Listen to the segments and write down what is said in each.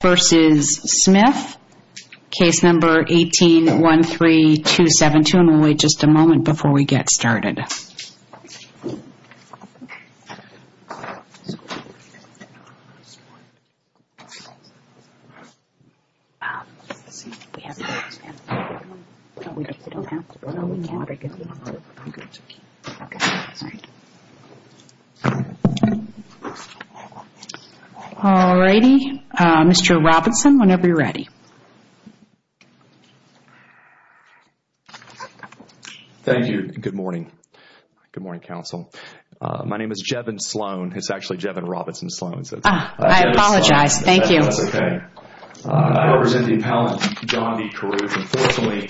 v. Smyth, Case No. 18-13272. And we'll wait just a moment before we get started. All righty. Mr. Robinson, whenever you're ready. Thank you. Good morning. Good morning, counsel. My name is Jevin Sloan. It's actually Jevin Robinson Sloan. I apologize. Thank you. That's okay. I represent the appellant John D. Carruth. Unfortunately,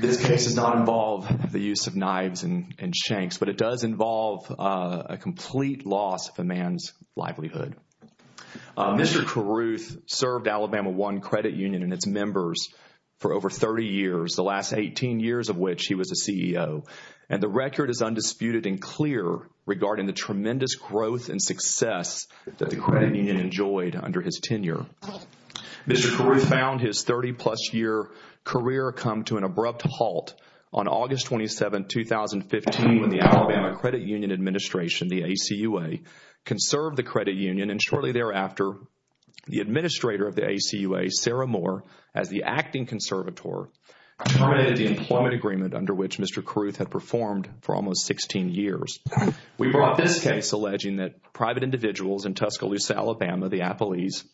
this case does not involve the use of knives and shanks, but it does involve a complete loss of a man's livelihood. Mr. Carruth served Alabama One Credit Union and its members for over 30 years, the last 18 years of which he was a CEO. And the record is undisputed and clear regarding the tremendous growth and success that the credit union enjoyed under his tenure. Mr. Carruth found his 30 plus year career come to an abrupt halt on the credit union administration, the ACUA, conserved the credit union, and shortly thereafter, the administrator of the ACUA, Sarah Moore, as the acting conservator, terminated the employment agreement under which Mr. Carruth had performed for almost 16 years. We brought this case alleging that private individuals in Tuscaloosa, Alabama, the Appalese,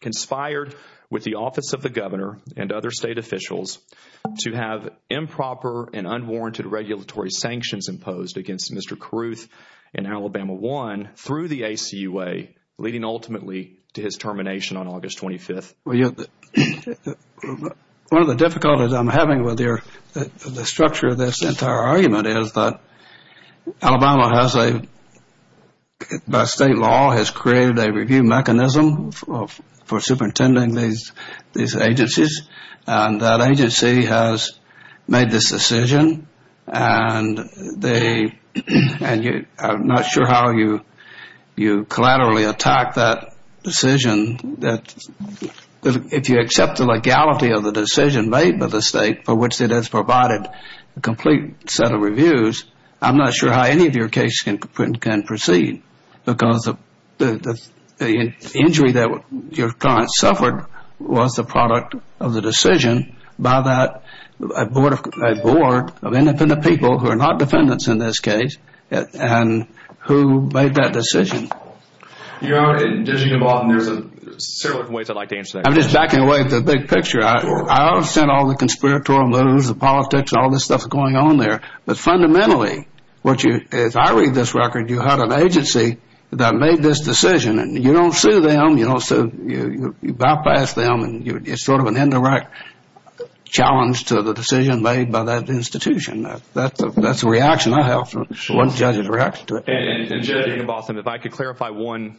conspired with the office of the governor and other state officials to have improper and unwarranted regulatory sanctions imposed against Mr. Carruth in Alabama One through the ACUA, leading ultimately to his termination on August 25th. One of the difficulties I'm having with the structure of this entire argument is that Alabama has a, by state law, has created a review mechanism for superintending these agencies, and that agency has made this decision, and I'm not sure how you collaterally attack that decision. If you accept the legality of the decision made by the state for which it has provided a complete set of reviews, I'm not sure how any of your cases can proceed because the injury that your client suffered was the product of the decision by a board of independent people, who are not defendants in this case, and who made that decision. Your Honor, there's several different ways I'd like to answer that question. I'm just backing away at the big picture. I understand all the conspiratorial moves, the politics, all this stuff going on there, but fundamentally, if I read this record, you had an agency that made this decision, and you don't sue them, you bypass them, and it's sort of an indirect challenge to the decision made by that institution. That's the reaction I have from one judge's reaction to it. And, Judge Ian Botham, if I could clarify one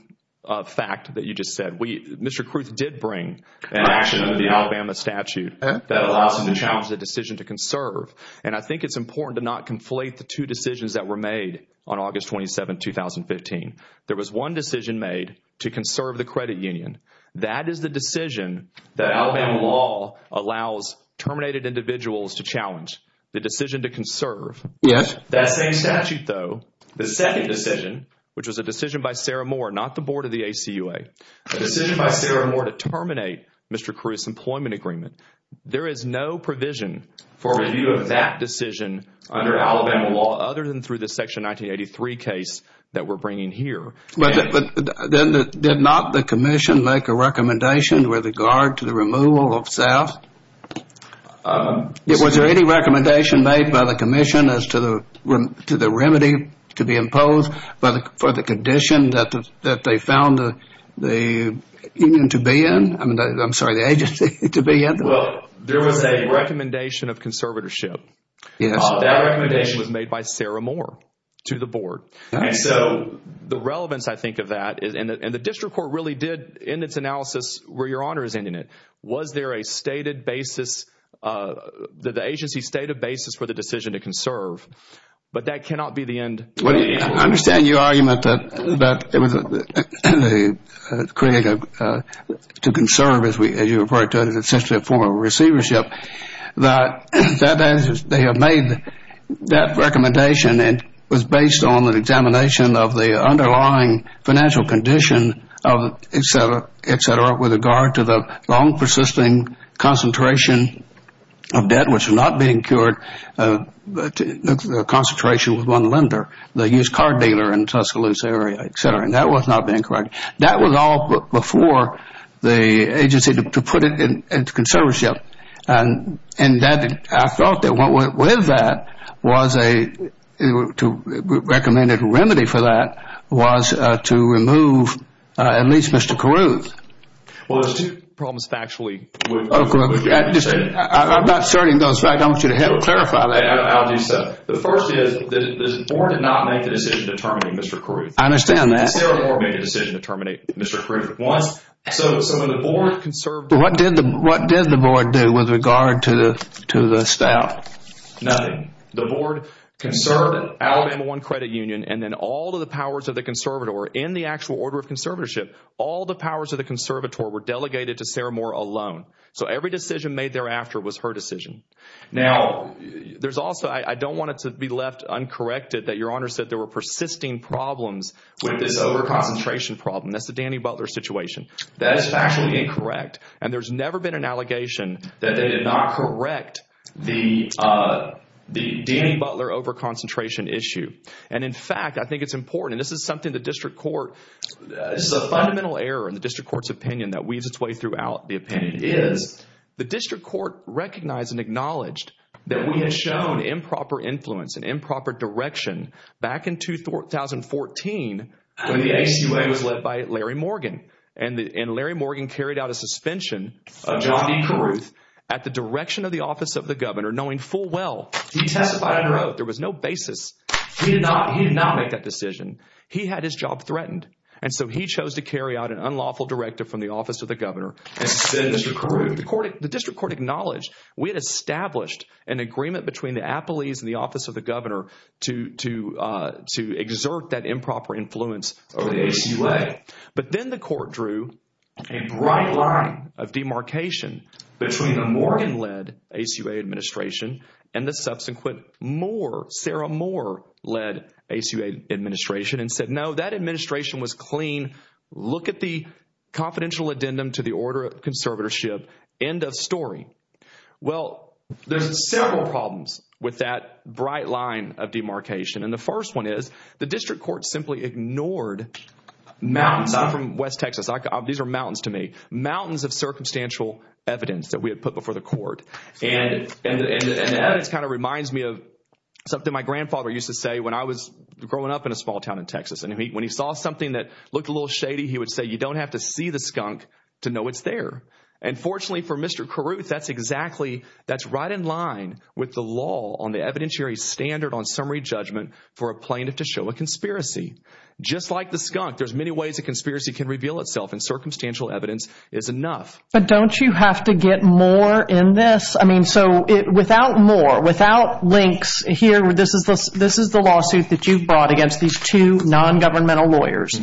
fact that you just said. Mr. Kruth did bring an action in the Alabama statute that allows him to challenge the decision to conserve, and I think it's important to not conflate the two decisions that were made on August 27, 2015. There was one decision made to conserve the credit union. That is the decision that Alabama law allows terminated individuals to challenge, the decision to conserve. That same statute, though, the second decision, which was a decision by Sarah Moore, not the board of the ACUA, a decision by Sarah Moore to terminate Mr. Kruth's employment agreement. There is no provision for review of that decision under Alabama law, other than through the section 1983 case that we're bringing here. But did not the commission make a recommendation with regard to the removal of staff? Was there any recommendation made by the commission as to the remedy to be imposed for the condition that they found the union to be in? I'm sorry, the agency to be in? Well, there was a recommendation of conservatorship. Yes. That recommendation was made by Sarah Moore to the board. And so the relevance, I think, of that, and the district court really did in its analysis where Your Honor is ending it, was there a stated basis, the agency stated basis for the decision to conserve, but that cannot be the end. I understand your argument that to conserve, as you refer to it, is essentially a form of receivership. That is, they have made that recommendation and it was based on an examination of the underlying financial condition, et cetera, et cetera, with regard to the long-persisting concentration of debt, which is not being cured, the concentration with one lender, the used car dealer in the Tuscaloosa area, et cetera. And that was not being corrected. That was all before the agency to put it into conservatorship. And I thought that what went with that was a recommended remedy for that was to remove at least Mr. Caruth. Well, there's two problems factually. I'm not asserting those facts. I want you to help clarify that. I'll do so. The first is the board did not make the decision to terminate Mr. Caruth. I understand that. The Saramore made the decision to terminate Mr. Caruth at once. So when the board conserved— What did the board do with regard to the staff? Nothing. The board conserved Alabama One Credit Union and then all of the powers of the conservator in the actual order of conservatorship, all the powers of the conservator were delegated to Saramore alone. So every decision made thereafter was her decision. Now, there's also—I don't want it to be left uncorrected that Your Honor said there were persisting problems with this overconcentration problem. That's the Danny Butler situation. That is factually incorrect. And there's never been an allegation that they did not correct the Danny Butler overconcentration issue. And in fact, I think it's important, and this is something the district court— and that weaves its way throughout the opinion—is the district court recognized and acknowledged that we had shown improper influence and improper direction back in 2014 when the ACA was led by Larry Morgan. And Larry Morgan carried out a suspension of John D. Caruth at the direction of the office of the governor, knowing full well he testified under oath. There was no basis. He did not make that decision. He had his job threatened. And so he chose to carry out an unlawful directive from the office of the governor and suspend Mr. Caruth. The district court acknowledged we had established an agreement between the appellees and the office of the governor to exert that improper influence over the ACA. But then the court drew a bright line of demarcation between the Morgan-led ACA administration and the subsequent Moore—Saramore-led ACA administration and said, no, that administration was clean. Look at the confidential addendum to the order of conservatorship. End of story. Well, there's several problems with that bright line of demarcation. And the first one is the district court simply ignored mountains from west Texas. These are mountains to me. Mountains of circumstantial evidence that we had put before the court. And that kind of reminds me of something my grandfather used to say when I was growing up in a small town in Texas. And when he saw something that looked a little shady, he would say, you don't have to see the skunk to know it's there. And fortunately for Mr. Caruth, that's exactly, that's right in line with the law on the evidentiary standard on summary judgment for a plaintiff to show a conspiracy. Just like the skunk, there's many ways a conspiracy can reveal itself, and circumstantial evidence is enough. But don't you have to get more in this? I mean, so without Moore, without links here, this is the lawsuit that you brought against these two nongovernmental lawyers.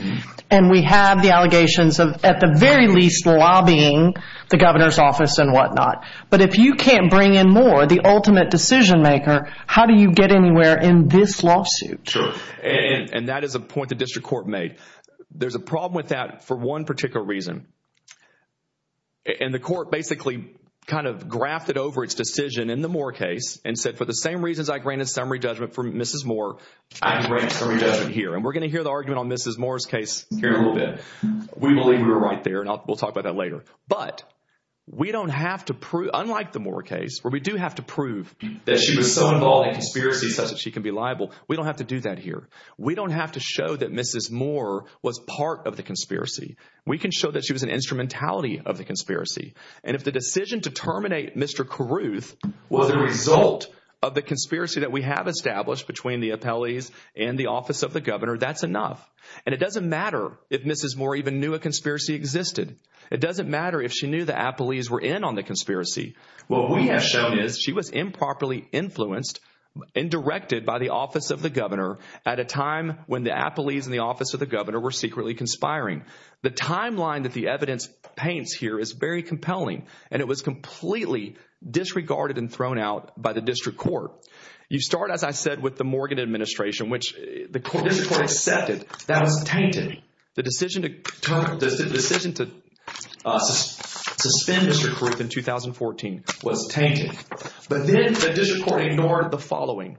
And we have the allegations of at the very least lobbying the governor's office and whatnot. But if you can't bring in Moore, the ultimate decision maker, how do you get anywhere in this lawsuit? And that is a point the district court made. There's a problem with that for one particular reason. And the court basically kind of grafted over its decision in the Moore case and said for the same reasons I granted summary judgment for Mrs. Moore, I grant summary judgment here. And we're going to hear the argument on Mrs. Moore's case here in a little bit. We believe we were right there, and we'll talk about that later. But we don't have to prove, unlike the Moore case where we do have to prove that she was so involved in conspiracies such that she can be liable, we don't have to do that here. We don't have to show that Mrs. Moore was part of the conspiracy. We can show that she was an instrumentality of the conspiracy. And if the decision to terminate Mr. Caruth was a result of the conspiracy that we have established between the appellees and the office of the governor, that's enough. And it doesn't matter if Mrs. Moore even knew a conspiracy existed. It doesn't matter if she knew the appellees were in on the conspiracy. What we have shown is she was improperly influenced and directed by the office of the governor at a time when the appellees and the office of the governor were secretly conspiring. The timeline that the evidence paints here is very compelling, and it was completely disregarded and thrown out by the district court. You start, as I said, with the Morgan administration, which the district court accepted. That was tainted. The decision to suspend Mr. Caruth in 2014 was tainted. But then the district court ignored the following.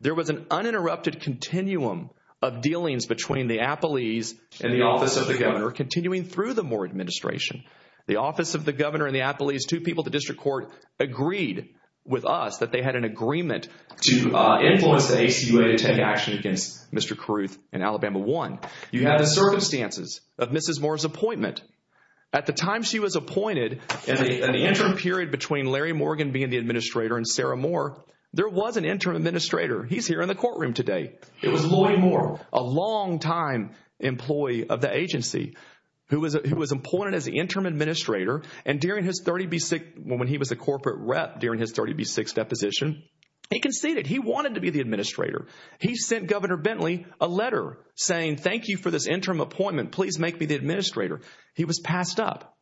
There was an uninterrupted continuum of dealings between the appellees and the office of the governor continuing through the Moore administration. The office of the governor and the appellees, two people at the district court, agreed with us that they had an agreement to influence the ACUA to take action against Mr. Caruth in Alabama 1. You have the circumstances of Mrs. Moore's appointment. At the time she was appointed, in the interim period between Larry Morgan being the administrator and Sarah Moore, there was an interim administrator. He's here in the courtroom today. It was Lloyd Moore, a longtime employee of the agency, who was appointed as the interim administrator, and when he was a corporate rep during his 30B6 deposition, he conceded. He wanted to be the administrator. He sent Governor Bentley a letter saying, thank you for this interim appointment. Please make me the administrator. He was passed up.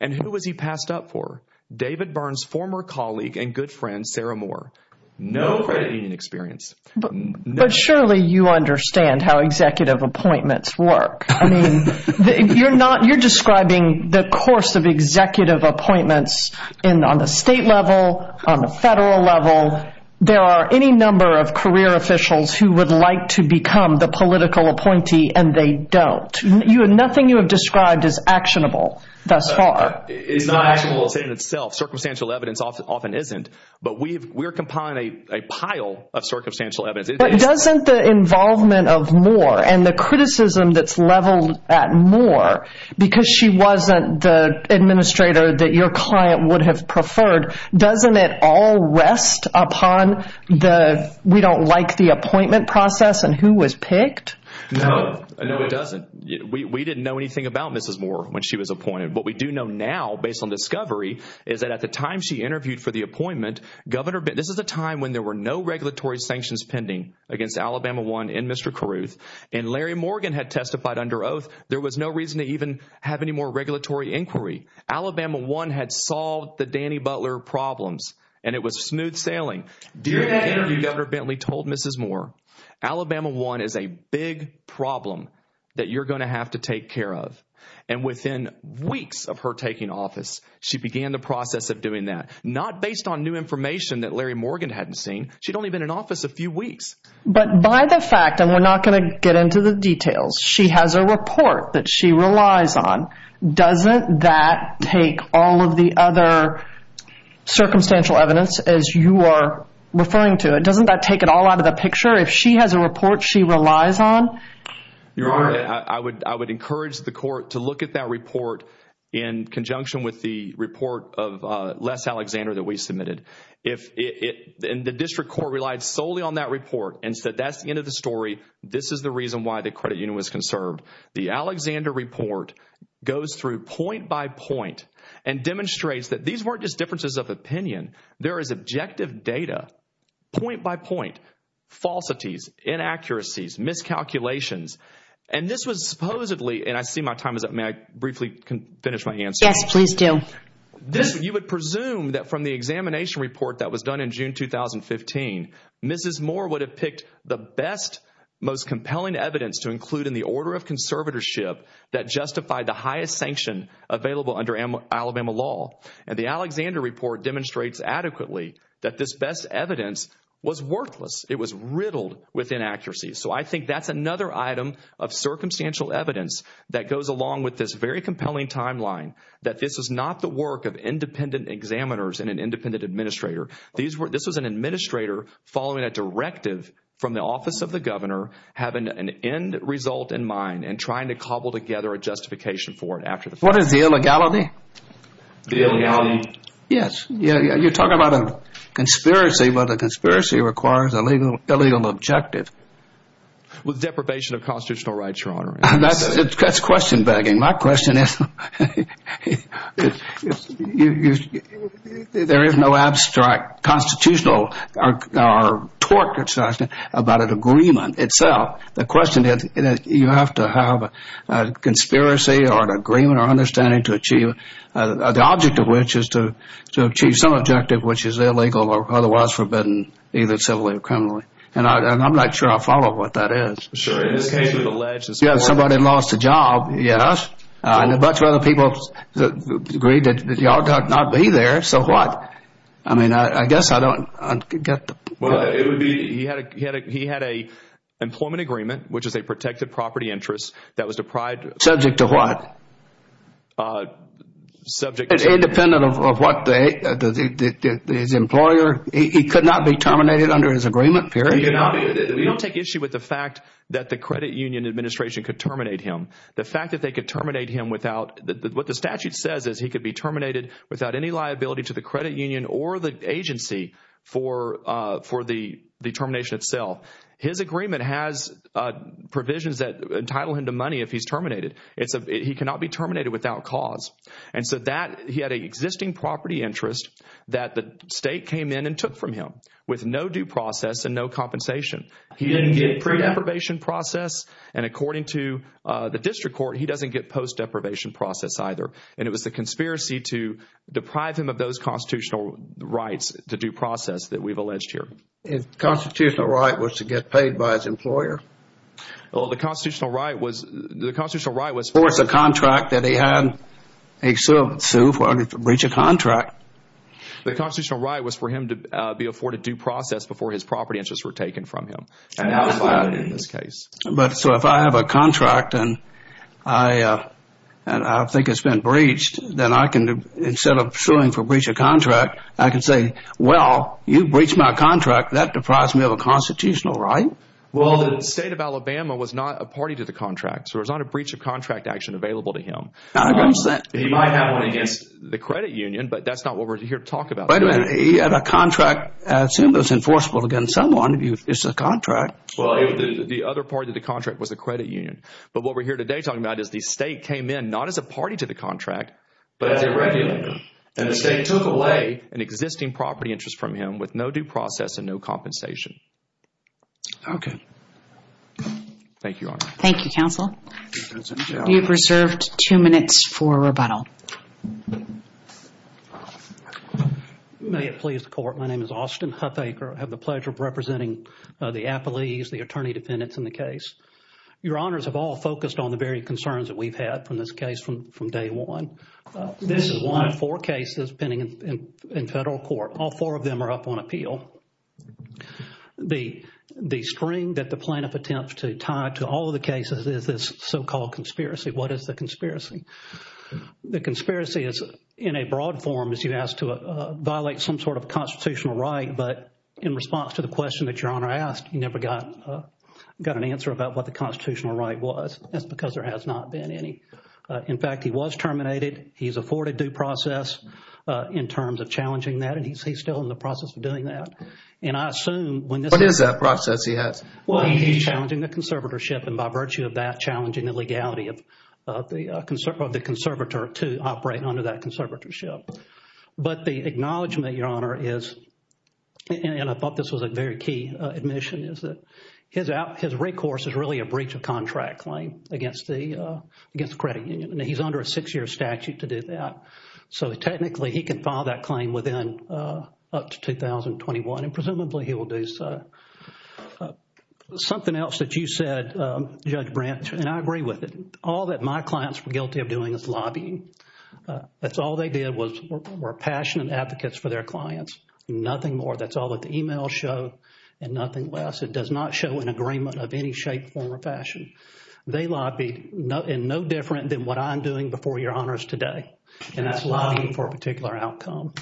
And who was he passed up for? David Byrne's former colleague and good friend, Sarah Moore. No credit union experience. But surely you understand how executive appointments work. I mean, you're describing the course of executive appointments on the state level, on the federal level. There are any number of career officials who would like to become the political appointee, and they don't. Nothing you have described is actionable thus far. It's not actionable in itself. Circumstantial evidence often isn't. But we're compiling a pile of circumstantial evidence. But doesn't the involvement of Moore and the criticism that's leveled at Moore, because she wasn't the administrator that your client would have preferred, doesn't it all rest upon the we don't like the appointment process and who was picked? No. No, it doesn't. We didn't know anything about Mrs. Moore when she was appointed. What we do know now, based on discovery, is that at the time she interviewed for the appointment, this is a time when there were no regulatory sanctions pending against Alabama 1 and Mr. Carruth. And Larry Morgan had testified under oath. There was no reason to even have any more regulatory inquiry. Alabama 1 had solved the Danny Butler problems, and it was smooth sailing. During the interview, Governor Bentley told Mrs. Moore, Alabama 1 is a big problem that you're going to have to take care of. And within weeks of her taking office, she began the process of doing that, not based on new information that Larry Morgan hadn't seen. She'd only been in office a few weeks. But by the fact, and we're not going to get into the details, she has a report that she relies on. Doesn't that take all of the other circumstantial evidence, as you are referring to it? Doesn't that take it all out of the picture? If she has a report she relies on? Your Honor, I would encourage the court to look at that report in conjunction with the report of Les Alexander that we submitted. And the district court relied solely on that report and said that's the end of the story. This is the reason why the credit union was conserved. The Alexander report goes through point by point and demonstrates that these weren't just differences of opinion. There is objective data, point by point, falsities, inaccuracies, miscalculations. And this was supposedly, and I see my time is up. May I briefly finish my answer? Yes, please do. You would presume that from the examination report that was done in June 2015, Mrs. Moore would have picked the best, most compelling evidence to include in the order of conservatorship that justified the highest sanction available under Alabama law. And the Alexander report demonstrates adequately that this best evidence was worthless. It was riddled with inaccuracies. So I think that's another item of circumstantial evidence that goes along with this very compelling timeline that this is not the work of independent examiners and an independent administrator. This was an administrator following a directive from the office of the governor having an end result in mind and trying to cobble together a justification for it after the fact. What is the illegality? The illegality? Yes. You're talking about a conspiracy, but a conspiracy requires a legal objective. With deprivation of constitutional rights, Your Honor. That's question-begging. My question is there is no abstract constitutional talk about an agreement itself. The question is you have to have a conspiracy or an agreement or understanding to achieve the object of which is to achieve some objective which is illegal or otherwise forbidden, either civilly or criminally. And I'm not sure I follow what that is. Somebody lost a job. Yes. And a bunch of other people agreed that y'all got to not be there. So what? I mean, I guess I don't get the point. Well, it would be he had a employment agreement, which is a protected property interest that was deprived of Subject to what? Subject to Independent of what his employer He could not be terminated under his agreement, period. We don't take issue with the fact that the credit union administration could terminate him. The fact that they could terminate him without What the statute says is he could be terminated without any liability to the credit union or the agency for the termination itself. His agreement has provisions that entitle him to money if he's terminated. He cannot be terminated without cause. And so he had an existing property interest that the state came in and took from him with no due process and no compensation. He didn't get pre-deprivation process. And according to the district court, he doesn't get post-deprivation process either. And it was the conspiracy to deprive him of those constitutional rights, the due process that we've alleged here. His constitutional right was to get paid by his employer. Well, the constitutional right was The constitutional right was Or it's a contract that he had. He could sue for breach of contract. The constitutional right was for him to be afforded due process before his property interests were taken from him. And that was that in this case. But so if I have a contract and I think it's been breached, then I can, instead of suing for breach of contract, I can say, well, you breached my contract. That deprives me of a constitutional right. Well, the state of Alabama was not a party to the contract. So there's not a breach of contract action available to him. He might have one against the credit union, but that's not what we're here to talk about. Wait a minute. He had a contract. Assume it was enforceable against someone. It's a contract. Well, the other part of the contract was the credit union. But what we're here today talking about is the state came in, not as a party to the contract, but as a regulator. And the state took away an existing property interest from him with no due process and no compensation. Okay. Thank you, Your Honor. Thank you, Counsel. You have reserved two minutes for rebuttal. May it please the Court. My name is Austin Huffaker. I have the pleasure of representing the appellees, the attorney defendants in the case. Your Honors have all focused on the very concerns that we've had from this case from day one. This is one of four cases pending in federal court. All four of them are up on appeal. The string that the plaintiff attempts to tie to all of the cases is this so-called conspiracy. What is the conspiracy? The conspiracy is, in a broad form, is you've asked to violate some sort of constitutional right, but in response to the question that Your Honor asked, you never got an answer about what the constitutional right was. That's because there has not been any. In fact, he was terminated. He's afforded due process in terms of challenging that, and he's still in the process of doing that. And I assume when this… What is that process he has? Well, he's challenging the conservatorship, and by virtue of that, challenging the legality of the conservator to operate under that conservatorship. But the acknowledgment, Your Honor, is, and I thought this was a very key admission, is that his recourse is really a breach of contract claim against the credit union, and he's under a six-year statute to do that. So technically, he can file that claim within up to 2021, and presumably he will do so. Something else that you said, Judge Brent, and I agree with it. All that my clients were guilty of doing is lobbying. That's all they did was were passionate advocates for their clients. Nothing more. That's all that the emails show, and nothing less. It does not show an agreement of any shape, form, or fashion. They lobbied, and no different than what I'm doing before Your Honors today, and that's lobbying for a particular outcome.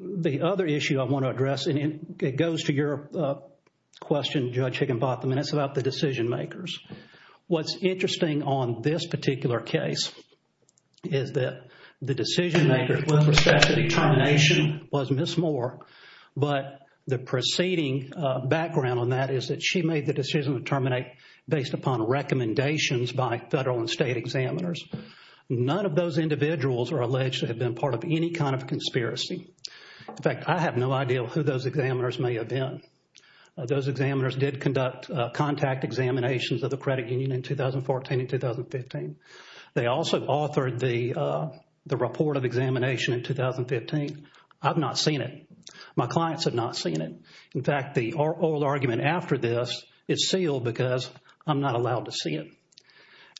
The other issue I want to address, and it goes to your question, Judge Higginbotham, and it's about the decision-makers. What's interesting on this particular case is that the decision-maker with respect to determination was Ms. Moore, but the preceding background on that is that she made the decision to terminate based upon recommendations by federal and state examiners. None of those individuals are alleged to have been part of any kind of conspiracy. In fact, I have no idea who those examiners may have been. Those examiners did conduct contact examinations of the credit union in 2014 and 2015. They also authored the report of examination in 2015. I've not seen it. My clients have not seen it. In fact, the oral argument after this is sealed because I'm not allowed to see it.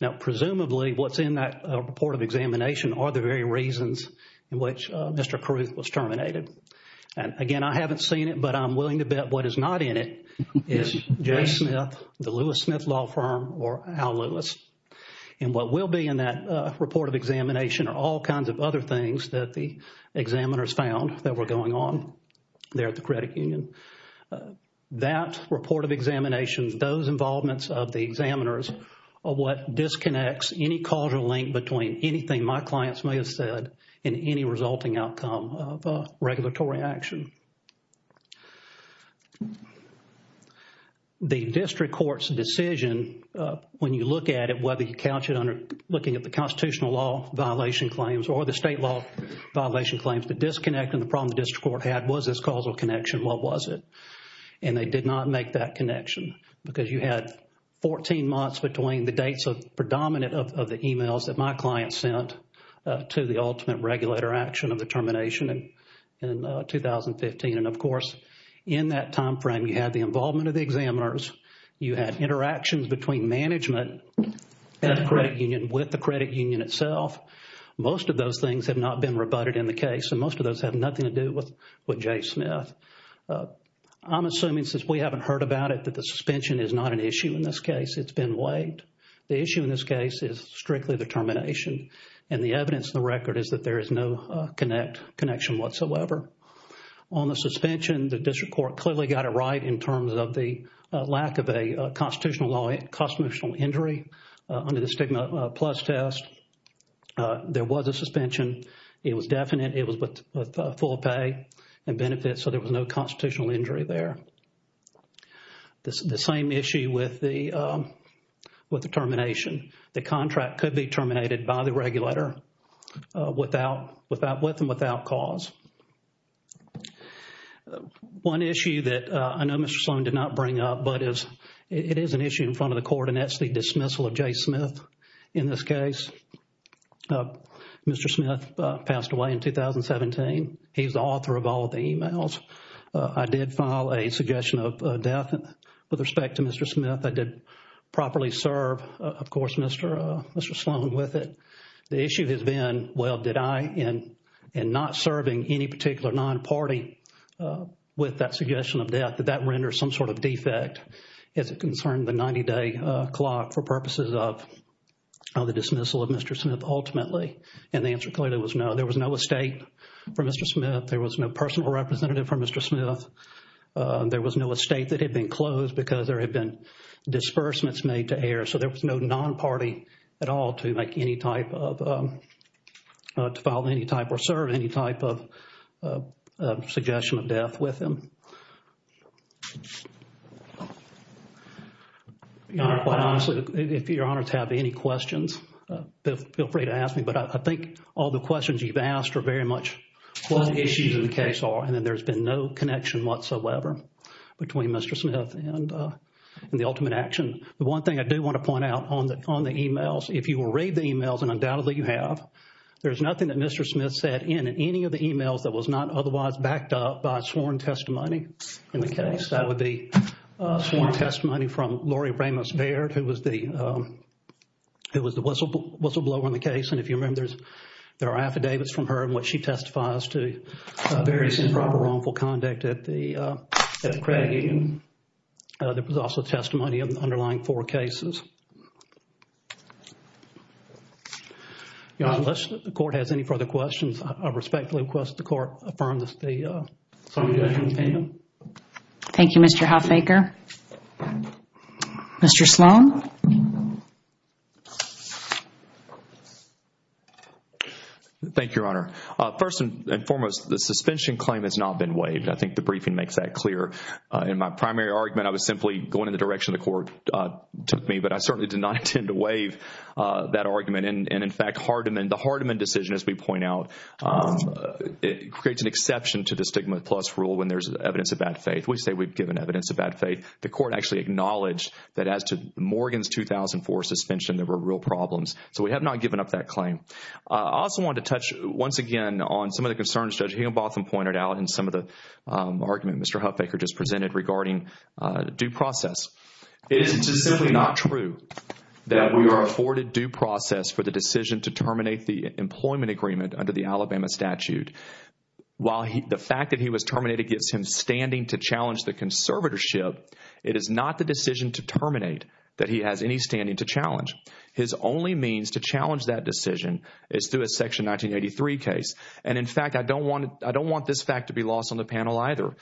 Now, presumably, what's in that report of examination are the very reasons in which Mr. Carruth was terminated. And again, I haven't seen it, but I'm willing to bet what is not in it is Jay Smith, the Lewis Smith Law Firm, or Al Lewis. And what will be in that report of examination are all kinds of other things that the examiners found that were going on there at the credit union. That report of examination, those involvements of the examiners, are what disconnects any causal link between anything my clients may have said and any resulting outcome of a regulatory action. The district court's decision, when you look at it, whether you couch it under looking at the constitutional law violation claims or the state law violation claims, the disconnect and the problem the district court had was this causal connection. What was it? And they did not make that connection because you had 14 months between the dates of predominant of the emails that my client sent to the ultimate regulator action of the termination in 2015. And of course, in that time frame, you had the involvement of the examiners, you had interactions between management and the credit union, with the credit union itself. Most of those things have not been rebutted in the case, and most of those have nothing to do with Jay Smith. I'm assuming, since we haven't heard about it, that the suspension is not an issue in this case. It's been waived. The issue in this case is strictly the termination. And the evidence in the record is that there is no connection whatsoever. On the suspension, the district court clearly got it right in terms of the lack of a constitutional injury under the stigma plus test. There was a suspension. It was definite. It was with full pay and benefits, so there was no constitutional injury there. The same issue with the termination. The contract could be terminated by the regulator with and without cause. One issue that I know Mr. Sloan did not bring up, but it is an issue in front of the court, and that's the dismissal of Jay Smith in this case. Mr. Smith passed away in 2017. He's the author of all the emails. I did file a suggestion of death with respect to Mr. Smith. I did properly serve, of course, Mr. Sloan with it. The issue has been, well, did I, and not serving any particular non-party with that suggestion of death, did that render some sort of defect as it concerned the 90-day clock for purposes of the dismissal of Mr. Smith ultimately? And the answer clearly was no. There was no estate for Mr. Smith. There was no personal representative for Mr. Smith. There was no estate that had been closed because there had been disbursements made to air, so there was no non-party at all to make any type of, to file any type or serve any type of suggestion of death with him. Your Honor, quite honestly, if Your Honors have any questions, feel free to ask me, but I think all the questions you've asked are very much what the issues in the case are, and then there's been no connection whatsoever between Mr. Smith and the ultimate action. The one thing I do want to point out on the emails, if you read the emails, and undoubtedly you have, there's nothing that Mr. Smith said in any of the emails that was not otherwise backed up by sworn testimony in the case. That would be sworn testimony from Lori Ramos-Baird, who was the whistleblower in the case, and if you remember, there are affidavits from her in which she testifies to various improper or wrongful conduct at the Craigian. There was also testimony of the underlying four cases. Your Honor, unless the Court has any further questions, I respectfully request the Court affirm the opinion. Thank you, Mr. Hoffaker. Mr. Sloan? Thank you, Your Honor. First and foremost, the suspension claim has not been waived. I think the briefing makes that clear. In my primary argument, I was simply going in the direction the Court took me, but I certainly did not intend to waive that argument, and in fact, the Hardeman decision, as we point out, creates an exception to the stigma plus rule when there's evidence of bad faith. We say we've given evidence of bad faith. The Court actually acknowledged that as to Morgan's 2004 suspension, there were real problems, so we have not given up that claim. I also want to touch once again on some of the concerns Judge Higginbotham pointed out in some of the argument Mr. Hoffaker just presented regarding due process. It is simply not true that we are afforded due process for the decision to terminate the employment agreement under the Alabama statute. While the fact that he was terminated gives him standing to challenge the conservatorship, it is not the decision to terminate that he has any standing to challenge. His only means to challenge that decision is through a Section 1983 case, and in fact, I don't want this fact to be lost on the panel either.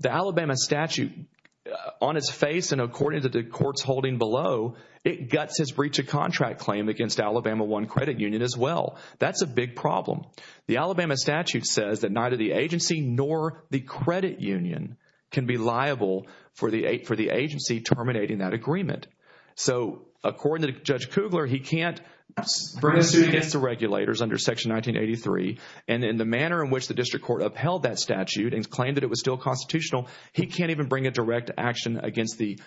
The Alabama statute, on its face and according to the courts holding below, it guts his breach of contract claim against Alabama I Credit Union as well. That's a big problem. The Alabama statute says that neither the agency nor the credit union can be liable for the agency terminating that agreement. So according to Judge Kugler, he can't bring a suit against the regulators under Section 1983, and in the manner in which the district court upheld that statute and claimed that it was still constitutional, he can't even bring a direct action against the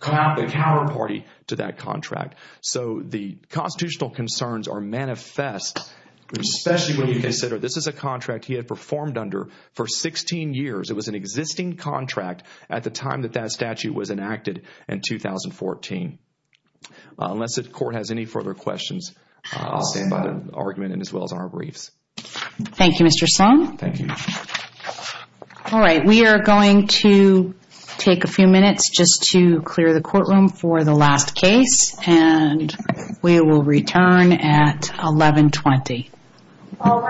coward party to that contract. So the constitutional concerns are manifest, especially when you consider this is a contract he had performed under for 16 years. It was an existing contract at the time that that statute was enacted in 2014. Unless the court has any further questions, I'll stand by the argument as well as our briefs. Thank you, Mr. Sloan. Thank you. All right. We are going to take a few minutes just to clear the courtroom for the last case, and we will return at 1120. All rise.